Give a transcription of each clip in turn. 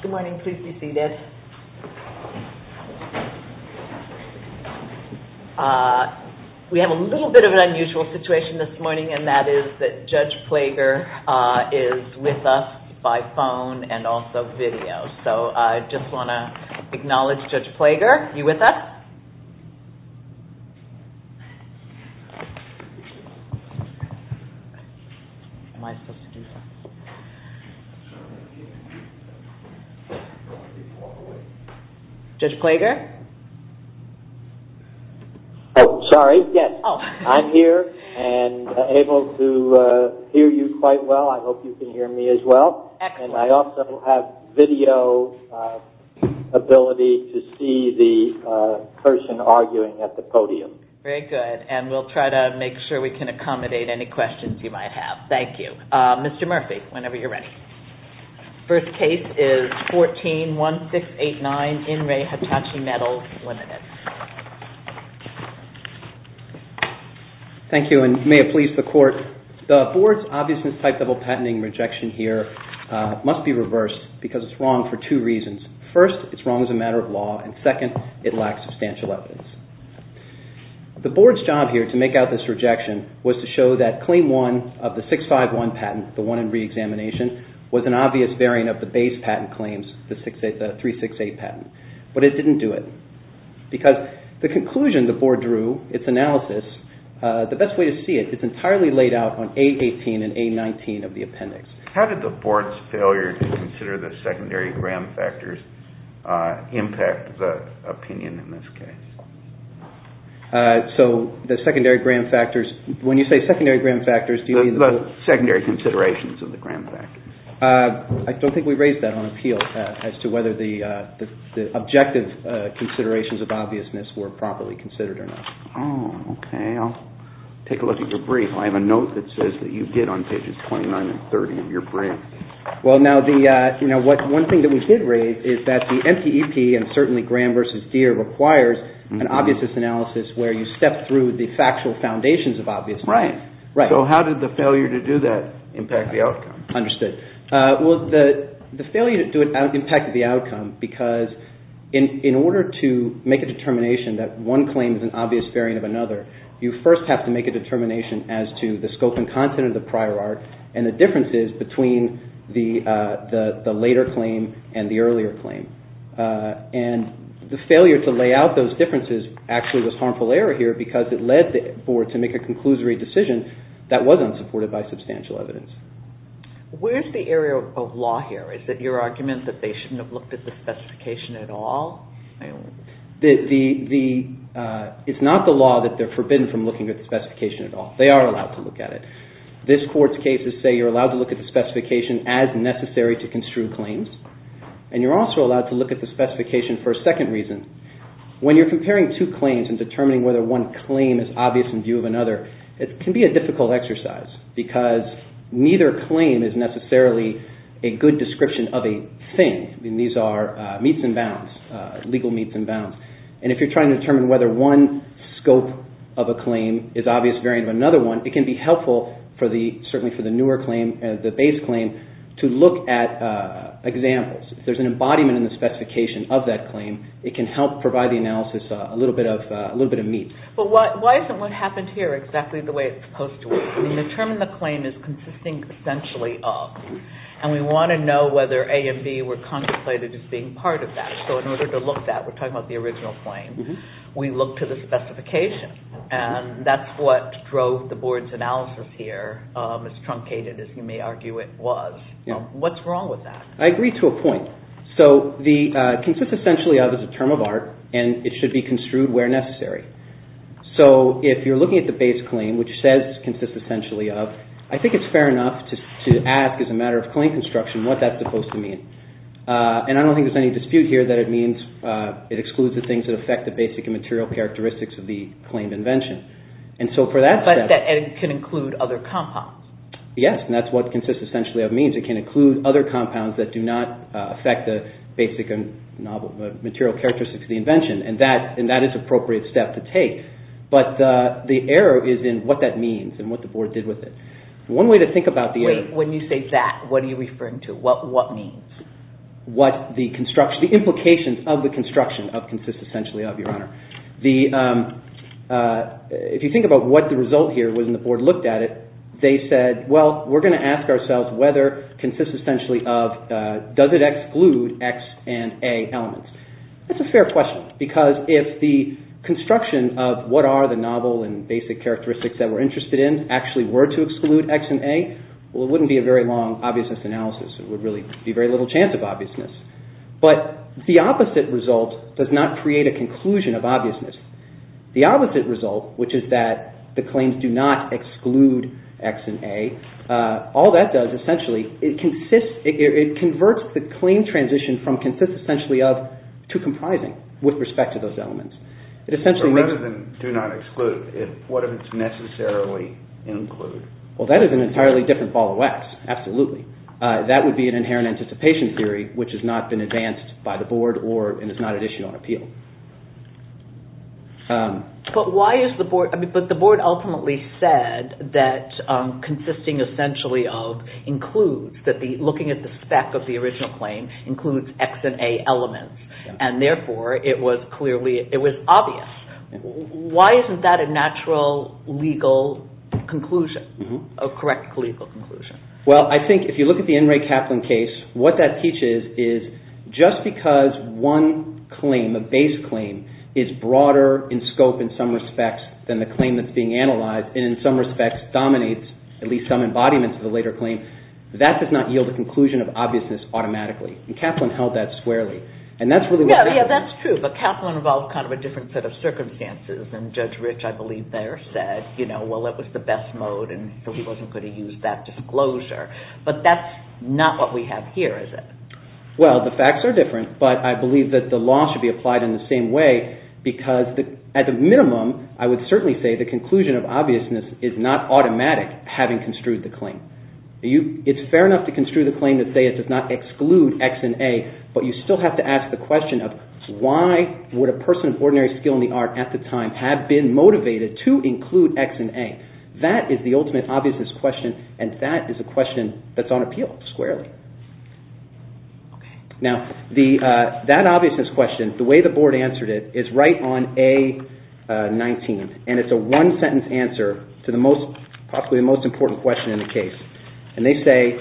Good morning. Please be seated. We have a little bit of an unusual situation this morning, and that is that Judge Plager is with us by phone and also video. So I just want to acknowledge Judge Plager. Are you with us? Judge Plager? Oh, sorry. Yes, I'm here and able to hear you quite well. I hope you can hear me as well. Excellent. And I also have video ability to see the person arguing at the podium. Very good. And we'll try to make sure we can accommodate any questions you might have. Thank you. Mr. Murphy, whenever you're ready. First case is 141689, In Re Hitachi Metals, Ltd. Thank you, and may it please the Court. The Board's obviousness type double patenting rejection here must be reversed because it's wrong for two reasons. First, it's wrong as a matter of law, and second, it lacks substantial evidence. The Board's job here to make out this rejection was to show that claim one of the 651 patent, the one in reexamination, was an obvious bearing of the base patent claims, the 368 patent. But it didn't do it because the conclusion the Board drew, its analysis, the best way to see it, it's entirely laid out on A18 and A19 of the appendix. How did the Board's failure to consider the secondary gram factors impact the opinion in this case? So the secondary gram factors, when you say secondary gram factors, do you mean the... The secondary considerations of the gram factors. I don't think we raised that on appeal as to whether the objective considerations of obviousness were properly considered or not. Oh, okay. I'll take a look at your brief. I have a note that says that you did on pages 29 and 30 of your brief. Well, now, one thing that we did raise is that the NCEP, and certainly Gram v. Deere, requires an obviousness analysis where you step through the factual foundations of obviousness. Right. So how did the failure to do that impact the outcome? Understood. Well, the failure to do it impacted the outcome because in order to make a determination that one claim is an obvious variant of another, you first have to make a determination as to the scope and content of the prior art and the differences between the later claim and the earlier claim. And the failure to lay out those differences actually was harmful error here because it led the Board to make a conclusory decision that was unsupported by substantial evidence. Where's the area of law here? Is it your argument that they shouldn't have looked at the specification at all? It's not the law that they're forbidden from looking at the specification at all. They are allowed to look at it. This Court's cases say you're allowed to look at the specification as necessary to construe claims, and you're also allowed to look at the specification for a second reason. When you're comparing two claims and determining whether one claim is obvious in view of another, it can be a difficult exercise because neither claim is necessarily a good description of a thing. These are legal meets and bounds. And if you're trying to determine whether one scope of a claim is an obvious variant of another one, it can be helpful certainly for the newer claim, the base claim, to look at examples. If there's an embodiment in the specification of that claim, it can help provide the analysis a little bit of meat. But why isn't what happened here exactly the way it's supposed to be? The term in the claim is consisting essentially of, and we want to know whether A and B were contemplated as being part of that. So in order to look at that, we're talking about the original claim, we look to the specification. And that's what drove the Board's analysis here, as truncated as you may argue it was. What's wrong with that? I agree to a point. So the consists essentially of is a term of art, and it should be construed where necessary. So if you're looking at the base claim, which says consists essentially of, I think it's fair enough to ask as a matter of claim construction what that's supposed to mean. And I don't think there's any dispute here that it excludes the things that affect the basic and material characteristics of the claimed invention. But it can include other compounds. Yes, and that's what consists essentially of means. It can include other compounds that do not affect the basic and material characteristics of the invention. And that is an appropriate step to take. But the error is in what that means and what the Board did with it. One way to think about the error... Wait, when you say that, what are you referring to? What means? The implications of the construction of consists essentially of, Your Honor. If you think about what the result here was when the Board looked at it, they said, well, we're going to ask ourselves whether consists essentially of, does it exclude X and A elements? That's a fair question. Because if the construction of what are the novel and basic characteristics that we're interested in actually were to exclude X and A, well, it wouldn't be a very long obviousness analysis. It would really be very little chance of obviousness. But the opposite result does not create a conclusion of obviousness. The opposite result, which is that the claims do not exclude X and A, all that does essentially, it converts the claim transition from consists essentially of to comprising with respect to those elements. But rather than do not exclude, what if it's necessarily include? Well, that is an entirely different ball of wax. Absolutely. That would be an inherent anticipation theory which has not been advanced by the Board and is not an issue on appeal. But why is the Board, but the Board ultimately said that consisting essentially of includes, that looking at the spec of the original claim includes X and A elements and therefore it was clearly, it was obvious. Why isn't that a natural legal conclusion, a correct legal conclusion? Well, I think if you look at the N. Ray Kaplan case, what that teaches is just because one claim, a base claim, is broader in scope in some respects than the claim that's being analyzed and in some respects dominates at least some embodiments of the later claim, that does not yield a conclusion of obviousness automatically. Kaplan held that squarely. That's true, but Kaplan involved kind of a different set of circumstances and Judge Rich, I believe there, said, well, it was the best mode and he wasn't going to use that disclosure. But that's not what we have here, is it? Well, the facts are different, but I believe that the law should be applied in the same way because at the minimum I would certainly say the conclusion of obviousness is not automatic having construed the claim. It's fair enough to construe the claim to say it does not exclude X and A, but you still have to ask the question of why would a person of ordinary skill in the art at the time have been motivated to include X and A. That is the ultimate obviousness question, and that is a question that's on appeal squarely. Now, that obviousness question, the way the Board answered it, is right on A19, and it's a one-sentence answer to possibly the most important question in the case. And they say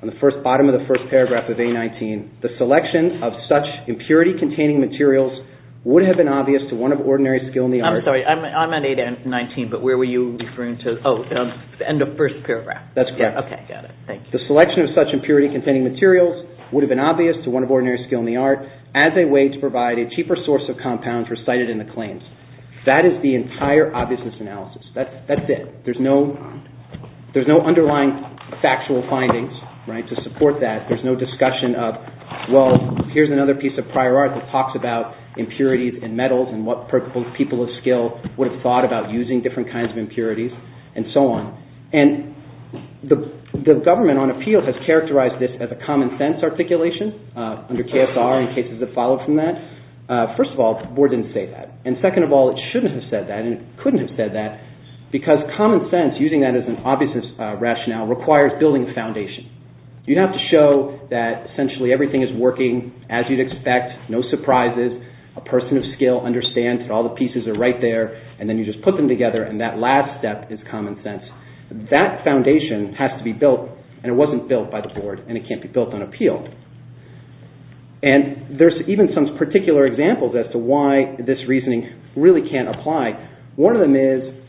on the bottom of the first paragraph of A19, the selection of such impurity-containing materials would have been obvious to one of ordinary skill in the art. I'm sorry, I'm on A19, but where were you referring to? Oh, in the first paragraph. That's correct. Okay, got it. Thank you. The selection of such impurity-containing materials would have been obvious to one of ordinary skill in the art as a way to provide a cheaper source of compounds recited in the claims. That is the entire obviousness analysis. That's it. There's no underlying factual findings to support that. There's no discussion of, well, here's another piece of prior art that talks about impurities and metals and what people of skill would have thought about using different kinds of impurities and so on. And the government on appeal has characterized this as a common-sense articulation under KSR and cases that follow from that. First of all, the Board didn't say that. And second of all, it shouldn't have said that and it couldn't have said that because common sense, using that as an obviousness rationale, requires building a foundation. You have to show that essentially everything is working as you'd expect, no surprises, a person of skill understands that all the pieces are right there, and then you just put them together and that last step is common sense. That foundation has to be built, and it wasn't built by the Board, and it can't be built on appeal. And there's even some particular examples as to why this reasoning really can't apply. One of them is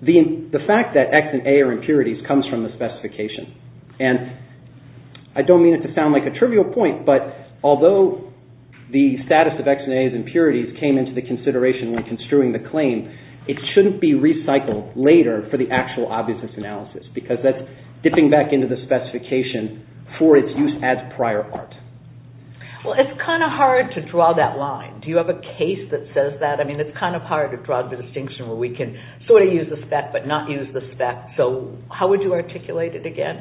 the fact that X and A are impurities comes from the specification. And I don't mean it to sound like a trivial point, but although the status of X and A as impurities came into the consideration when construing the claim, it shouldn't be recycled later for the actual obviousness analysis because that's dipping back into the specification for its use as prior art. Well, it's kind of hard to draw that line. Do you have a case that says that? I mean, it's kind of hard to draw the distinction where we can sort of use the spec but not use the spec. So how would you articulate it again?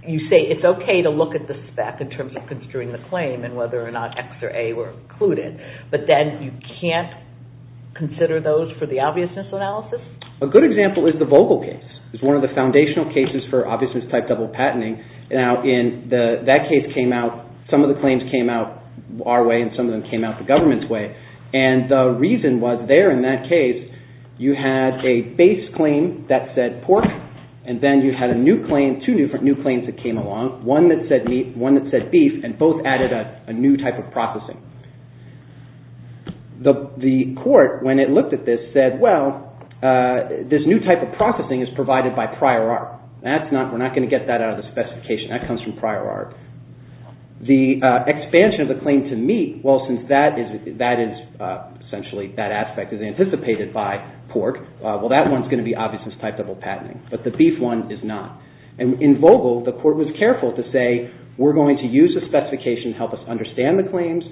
You say it's okay to look at the spec in terms of construing the claim and whether or not X or A were included, but then you can't consider those for the obviousness analysis? A good example is the Vogel case. It's one of the foundational cases for obviousness-type double patenting. Now, that case came out, some of the claims came out our way, and some of them came out the government's way. And the reason was there in that case you had a base claim that said pork and then you had two different new claims that came along, one that said meat, one that said beef, and both added a new type of processing. The court, when it looked at this, said, well, this new type of processing is provided by prior art. We're not going to get that out of the specification. That comes from prior art. The expansion of the claim to meat, well, since that is essentially that aspect is anticipated by pork, well, that one's going to be obviousness-type double patenting, but the beef one is not. And in Vogel, the court was careful to say we're going to use the specification to help us understand the claims,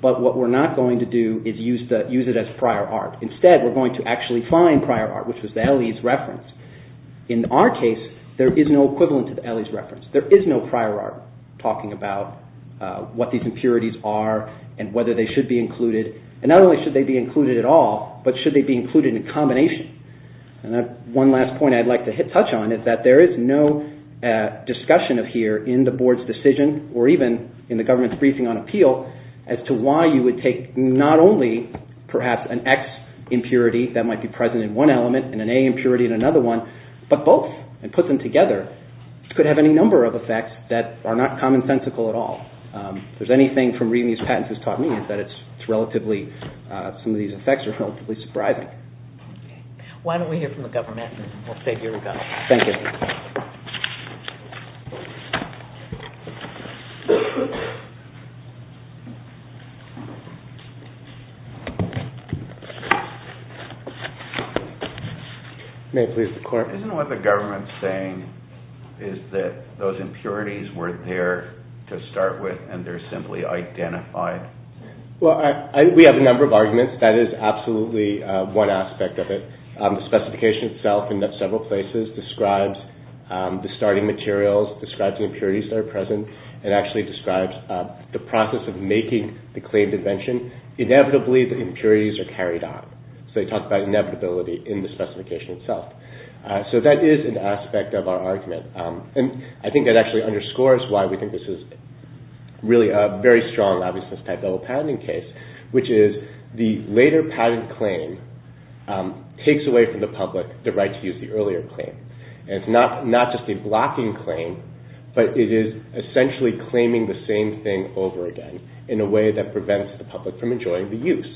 but what we're not going to do is use it as prior art. Instead, we're going to actually find prior art, which was the LE's reference. In our case, there is no equivalent to the LE's reference. There is no prior art talking about what these impurities are and whether they should be included. And not only should they be included at all, but should they be included in combination? And one last point I'd like to touch on is that there is no discussion of here in the board's decision or even in the government's briefing on appeal as to why you would take not only perhaps an X impurity that might be present in one element and an A impurity in another one, but both and put them together could have any number of effects that are not commonsensical at all. If there's anything from reading these patents that's taught me is that some of these effects are relatively surprising. Why don't we hear from the government and we'll say here we go. Isn't what the government is saying is that those impurities were there to start with and they're simply identified? We have a number of arguments. That is absolutely one aspect of it. The specification itself in several places describes the starting materials, describes the impurities that are present, and actually describes the process of making the claimed invention. Inevitably, the impurities are carried on. So they talk about inevitability in the specification itself. So that is an aspect of our argument. I think that actually underscores why we think this is really a very strong obviousness type double patenting case, which is the later patent claim takes away from the public the right to use the earlier claim. It's not just a blocking claim, but it is essentially claiming the same thing over again in a way that prevents the public from enjoying the use.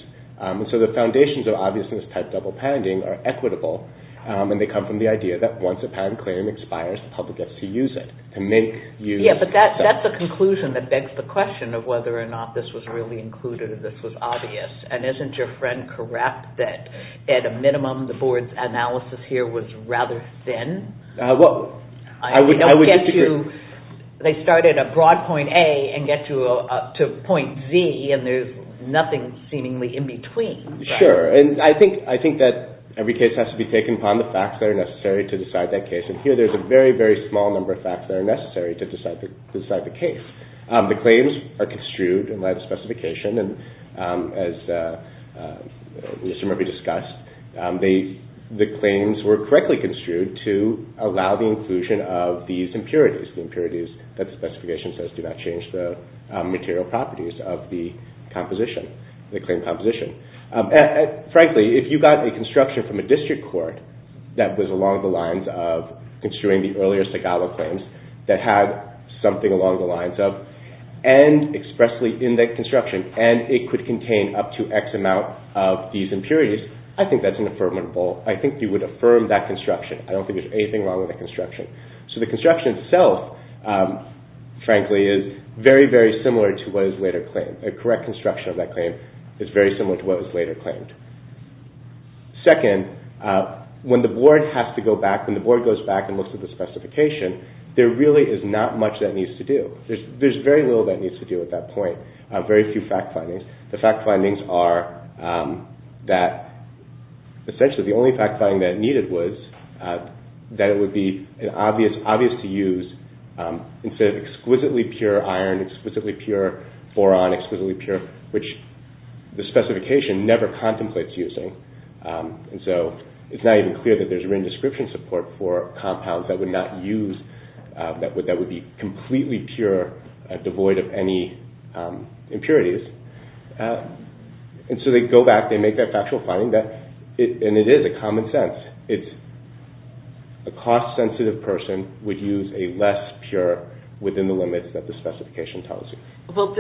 So the foundations of obviousness type double patenting are equitable and they come from the idea that once a patent claim expires, the public gets to use it. But that's a conclusion that begs the question of whether or not this was really included or this was obvious. And isn't your friend correct that at a minimum the board's analysis here was rather thin? I would disagree. They started at broad point A and get to point Z and there's nothing seemingly in between. Sure, and I think that every case has to be taken upon the facts that are necessary to decide that case. And here there's a very, very small number of facts that are necessary to decide the case. The claims are construed in light of specification and as Mr. Murphy discussed, the claims were correctly construed to allow the inclusion of these impurities, the impurities that the specification says do not change the material properties of the claim composition. Frankly, if you got a construction from a district court that was along the lines of construing the earlier Segalo claims that had something along the lines of, and expressly in that construction, and it could contain up to X amount of these impurities, I think that's an affirmative vote. I think you would affirm that construction. I don't think there's anything wrong with that construction. So the construction itself, frankly, is very, very similar to what is later claimed. A correct construction of that claim is very similar to what was later claimed. Second, when the board has to go back, when the board goes back and looks at the specification, there really is not much that needs to do. There's very little that needs to do at that point. Very few fact findings. The fact findings are that essentially the only fact finding that needed was that it would be obvious to use, instead of exquisitely pure iron, exquisitely pure boron, exquisitely pure, which the specification never contemplates using. So it's not even clear that there's a written description support for compounds that would not use, that would be completely pure, devoid of any impurities. And so they go back, they make that factual finding, and it is a common sense. A cost-sensitive person would use a less pure within the limits that the specification tells you. But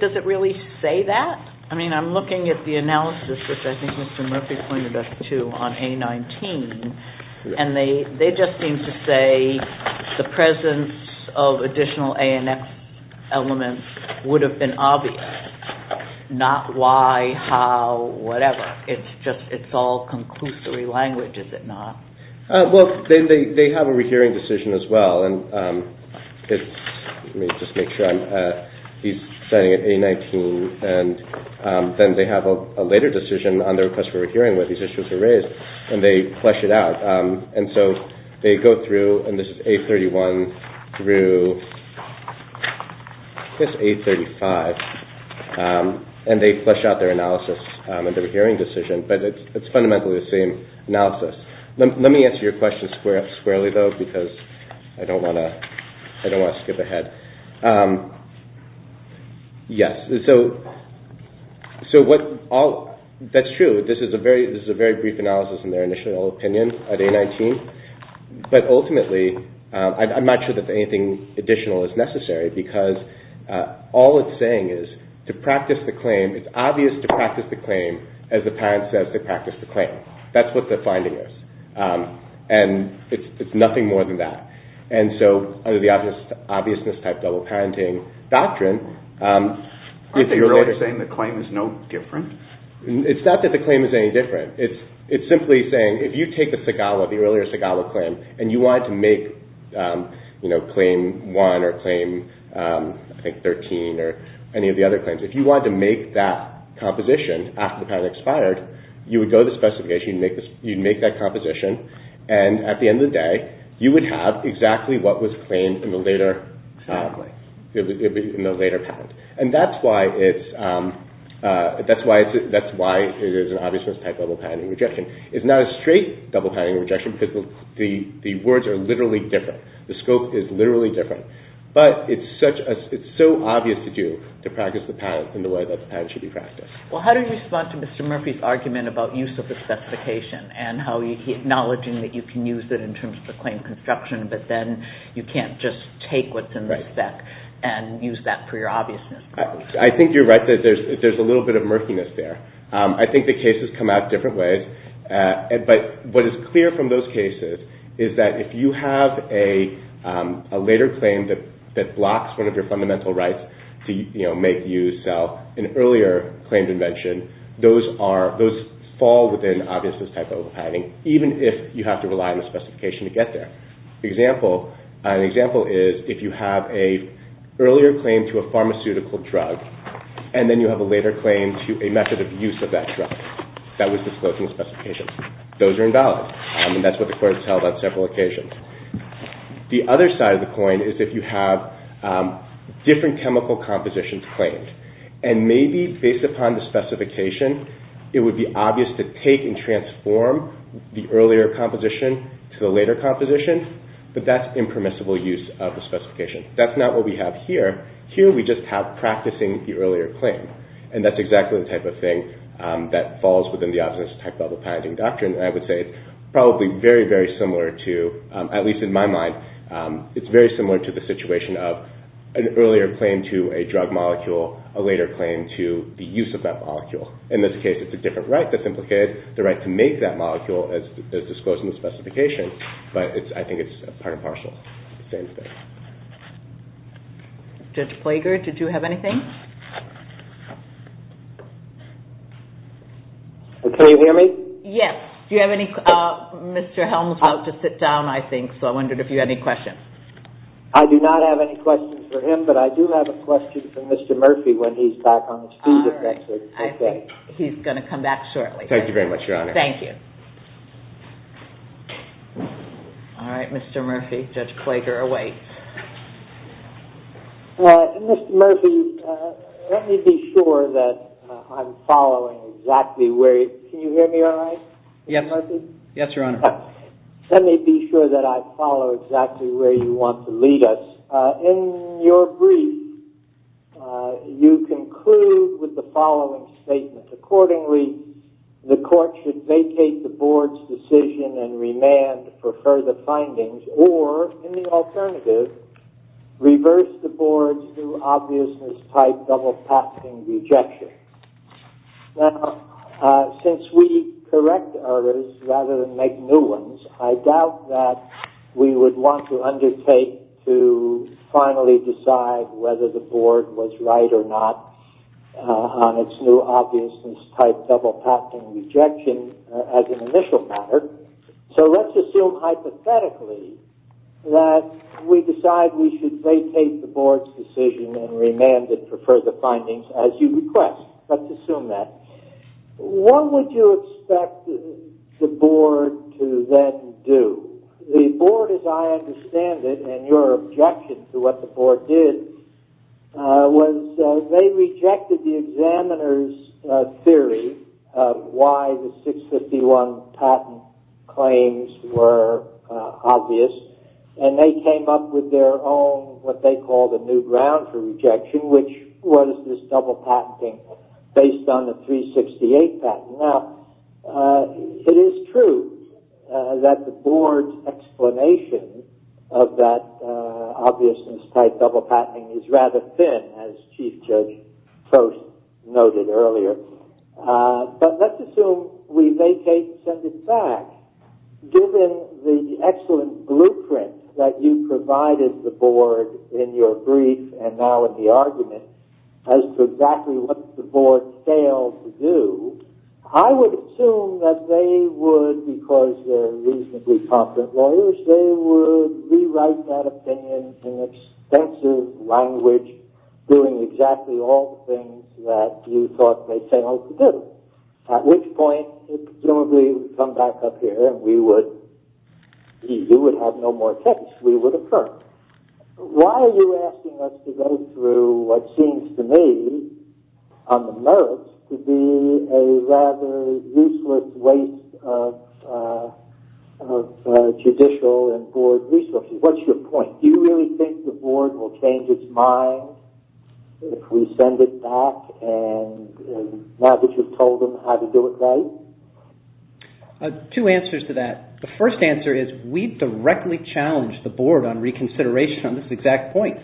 does it really say that? I mean, I'm looking at the analysis, which I think Mr. Murphy pointed us to on A19, and they just seem to say the presence of additional ANF elements would have been obvious. Not why, how, whatever. It's all conclusory language, is it not? Well, they have a rehearing decision as well. Let me just make sure I'm, he's signing an A19, and then they have a later decision on their request for a hearing where these issues are raised, and they flesh it out. And so they go through, and this is A31 through, I guess A35, and they flesh out their analysis and their hearing decision, but it's fundamentally the same analysis. Let me answer your question squarely, though, because I don't want to skip ahead. Yes. That's true. This is a very brief analysis in their initial opinion of A19. But ultimately, I'm not sure that anything additional is necessary, because all it's saying is to practice the claim, it's obvious to practice the claim as the parent says to practice the claim. That's what the finding is. And it's nothing more than that. And so, under the obviousness type double parenting doctrine... Aren't they really saying the claim is no different? It's not that the claim is any different. It's simply saying, if you take the SIGALA, the earlier SIGALA claim, and you wanted to make claim one or claim, I think, 13 or any of the other claims, if you wanted to make that composition after the patent expired, you would go to the specification, you'd make that composition, and at the end of the day, you would have exactly what was claimed in the later patent. And that's why it is an obviousness type double parenting rejection. It's not a straight double parenting rejection, because the words are literally different. The scope is literally different. But it's so obvious to do to practice the patent in the way that the patent should be practiced. Well, how do you respond to Mr. Murphy's argument about use of the specification and how he's acknowledging that you can use it in terms of the claim construction, but then you can't just take what's in the spec and use that for your obviousness? I think you're right that there's a little bit of murkiness there. I think the cases come out different ways. But what is clear from those cases is that if you have a later claim that blocks one of your fundamental rights to make use of an earlier claimed invention, those fall within obviousness type double parenting, even if you have to rely on the specification to get there. An example is if you have an earlier claim to a pharmaceutical drug and then you have a later claim to a method of use of that drug that was disclosing specifications. Those are invalid, and that's what the court has held on several occasions. The other side of the coin is if you have different chemical compositions claimed. And maybe based upon the specification, it would be obvious to take and transform the earlier composition to the later composition, but that's impermissible use of the specification. That's not what we have here. Here we just have practicing the earlier claim, and that's exactly the type of thing that falls within the obviousness type double parenting doctrine. And I would say it's probably very, very similar to, at least in my mind, it's very similar to the situation of an earlier claim to a drug molecule, a later claim to the use of that molecule. In this case, it's a different right that's implicated, the right to make that molecule as disclosed in the specification, but I think it's part and parcel of the same thing. Judge Plager, did you have anything? Can you hear me? Yes. Do you have any? Mr. Helms is about to sit down, I think, so I wondered if you had any questions. I do not have any questions for him, but I do have a question for Mr. Murphy when he's back on his feet, if that's okay. All right. I think he's going to come back shortly. Thank you very much, Your Honor. Thank you. All right. Mr. Murphy, Judge Plager awaits. Mr. Murphy, let me be sure that I'm following exactly where you want to lead us. In your brief, you conclude with the following statement. Accordingly, the court should vacate the board's decision and remand for further findings, or, in the alternative, reverse the board's new-obviousness-type double-passing rejection. Now, since we correct errors rather than make new ones, I doubt that we would want to undertake to finally decide whether the board was right or not on its new-obviousness-type double-passing rejection as an initial matter. So let's assume hypothetically that we decide we should vacate the board's decision and remand it for further findings, as you request. Let's assume that. What would you expect the board to then do? The board, as I understand it, and your objection to what the board did, was they rejected the examiner's theory of why the 651 patent claims were obvious, and they came up with their own, what they call the new ground for rejection, which was this double-patenting based on the 368 patent. Now, it is true that the board's explanation of that obviousness-type double-patenting is rather thin, as Chief Judge Post noted earlier. But let's assume we vacate and send it back. Given the excellent blueprint that you provided the board in your brief, and now in the argument, as to exactly what the board failed to do, I would assume that they would, because they're reasonably confident lawyers, they would rewrite that opinion in extensive language, doing exactly all the things that you thought they failed to do. At which point, it presumably would come back up here, and you would have no more case. We would occur. Why are you asking us to go through what seems to me, on the merits, to be a rather useless waste of judicial and board resources? What's your point? Do you really think the board will change its mind if we send it back now that you've told them how to do it right? Two answers to that. The first answer is, we directly challenged the board on reconsideration on this exact point.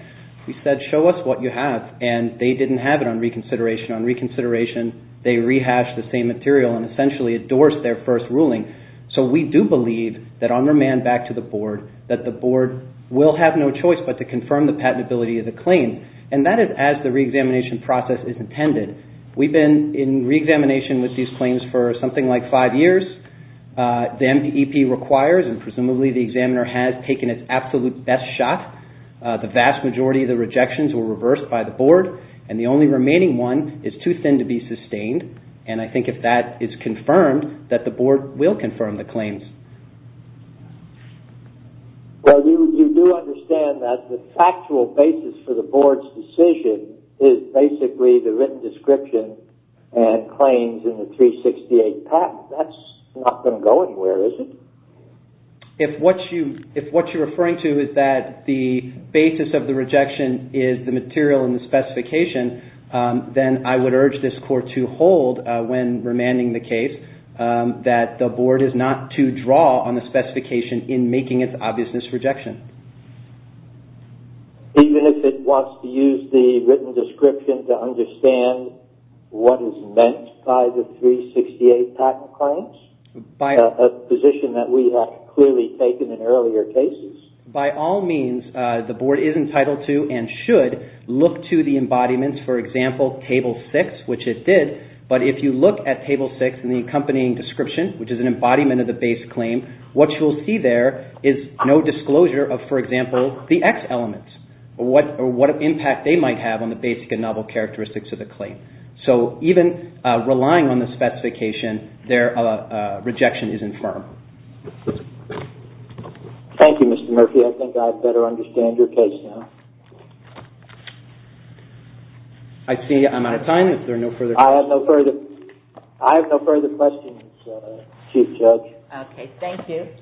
We said, show us what you have, and they didn't have it on reconsideration. On reconsideration, they rehashed the same material and essentially endorsed their first ruling. So we do believe that on remand, back to the board, that the board will have no choice but to confirm the patentability of the claim, and that is as the reexamination process is intended. We've been in reexamination with these claims for something like five years. The MDEP requires, and presumably the examiner has taken its absolute best shot. The vast majority of the rejections were reversed by the board, and the only remaining one is too thin to be sustained, and I think if that is confirmed, that the board will confirm the claims. Well, you do understand that the factual basis for the board's decision is basically the written description and claims in the 368 patent. That's not going to go anywhere, is it? If what you're referring to is that the basis of the rejection is the material and the specification, then I would urge this court to hold when remanding the case that the board is not to draw on the specification in making its obviousness rejection. Even if it wants to use the written description to understand what is meant by the 368 patent claims, a position that we have clearly taken in earlier cases? By all means, the board is entitled to and should look to the embodiments. For example, Table 6, which it did, but if you look at Table 6 and the accompanying description, which is an embodiment of the base claim, what you'll see there is no disclosure of, for example, the X elements, or what impact they might have on the basic and novel characteristics of the claim. So, even relying on the specification, their rejection is infirm. Thank you, Mr. Murphy. I think I better understand your case now. I see I'm out of time. Is there no further questions? I have no further questions, Chief Judge. Okay, thank you.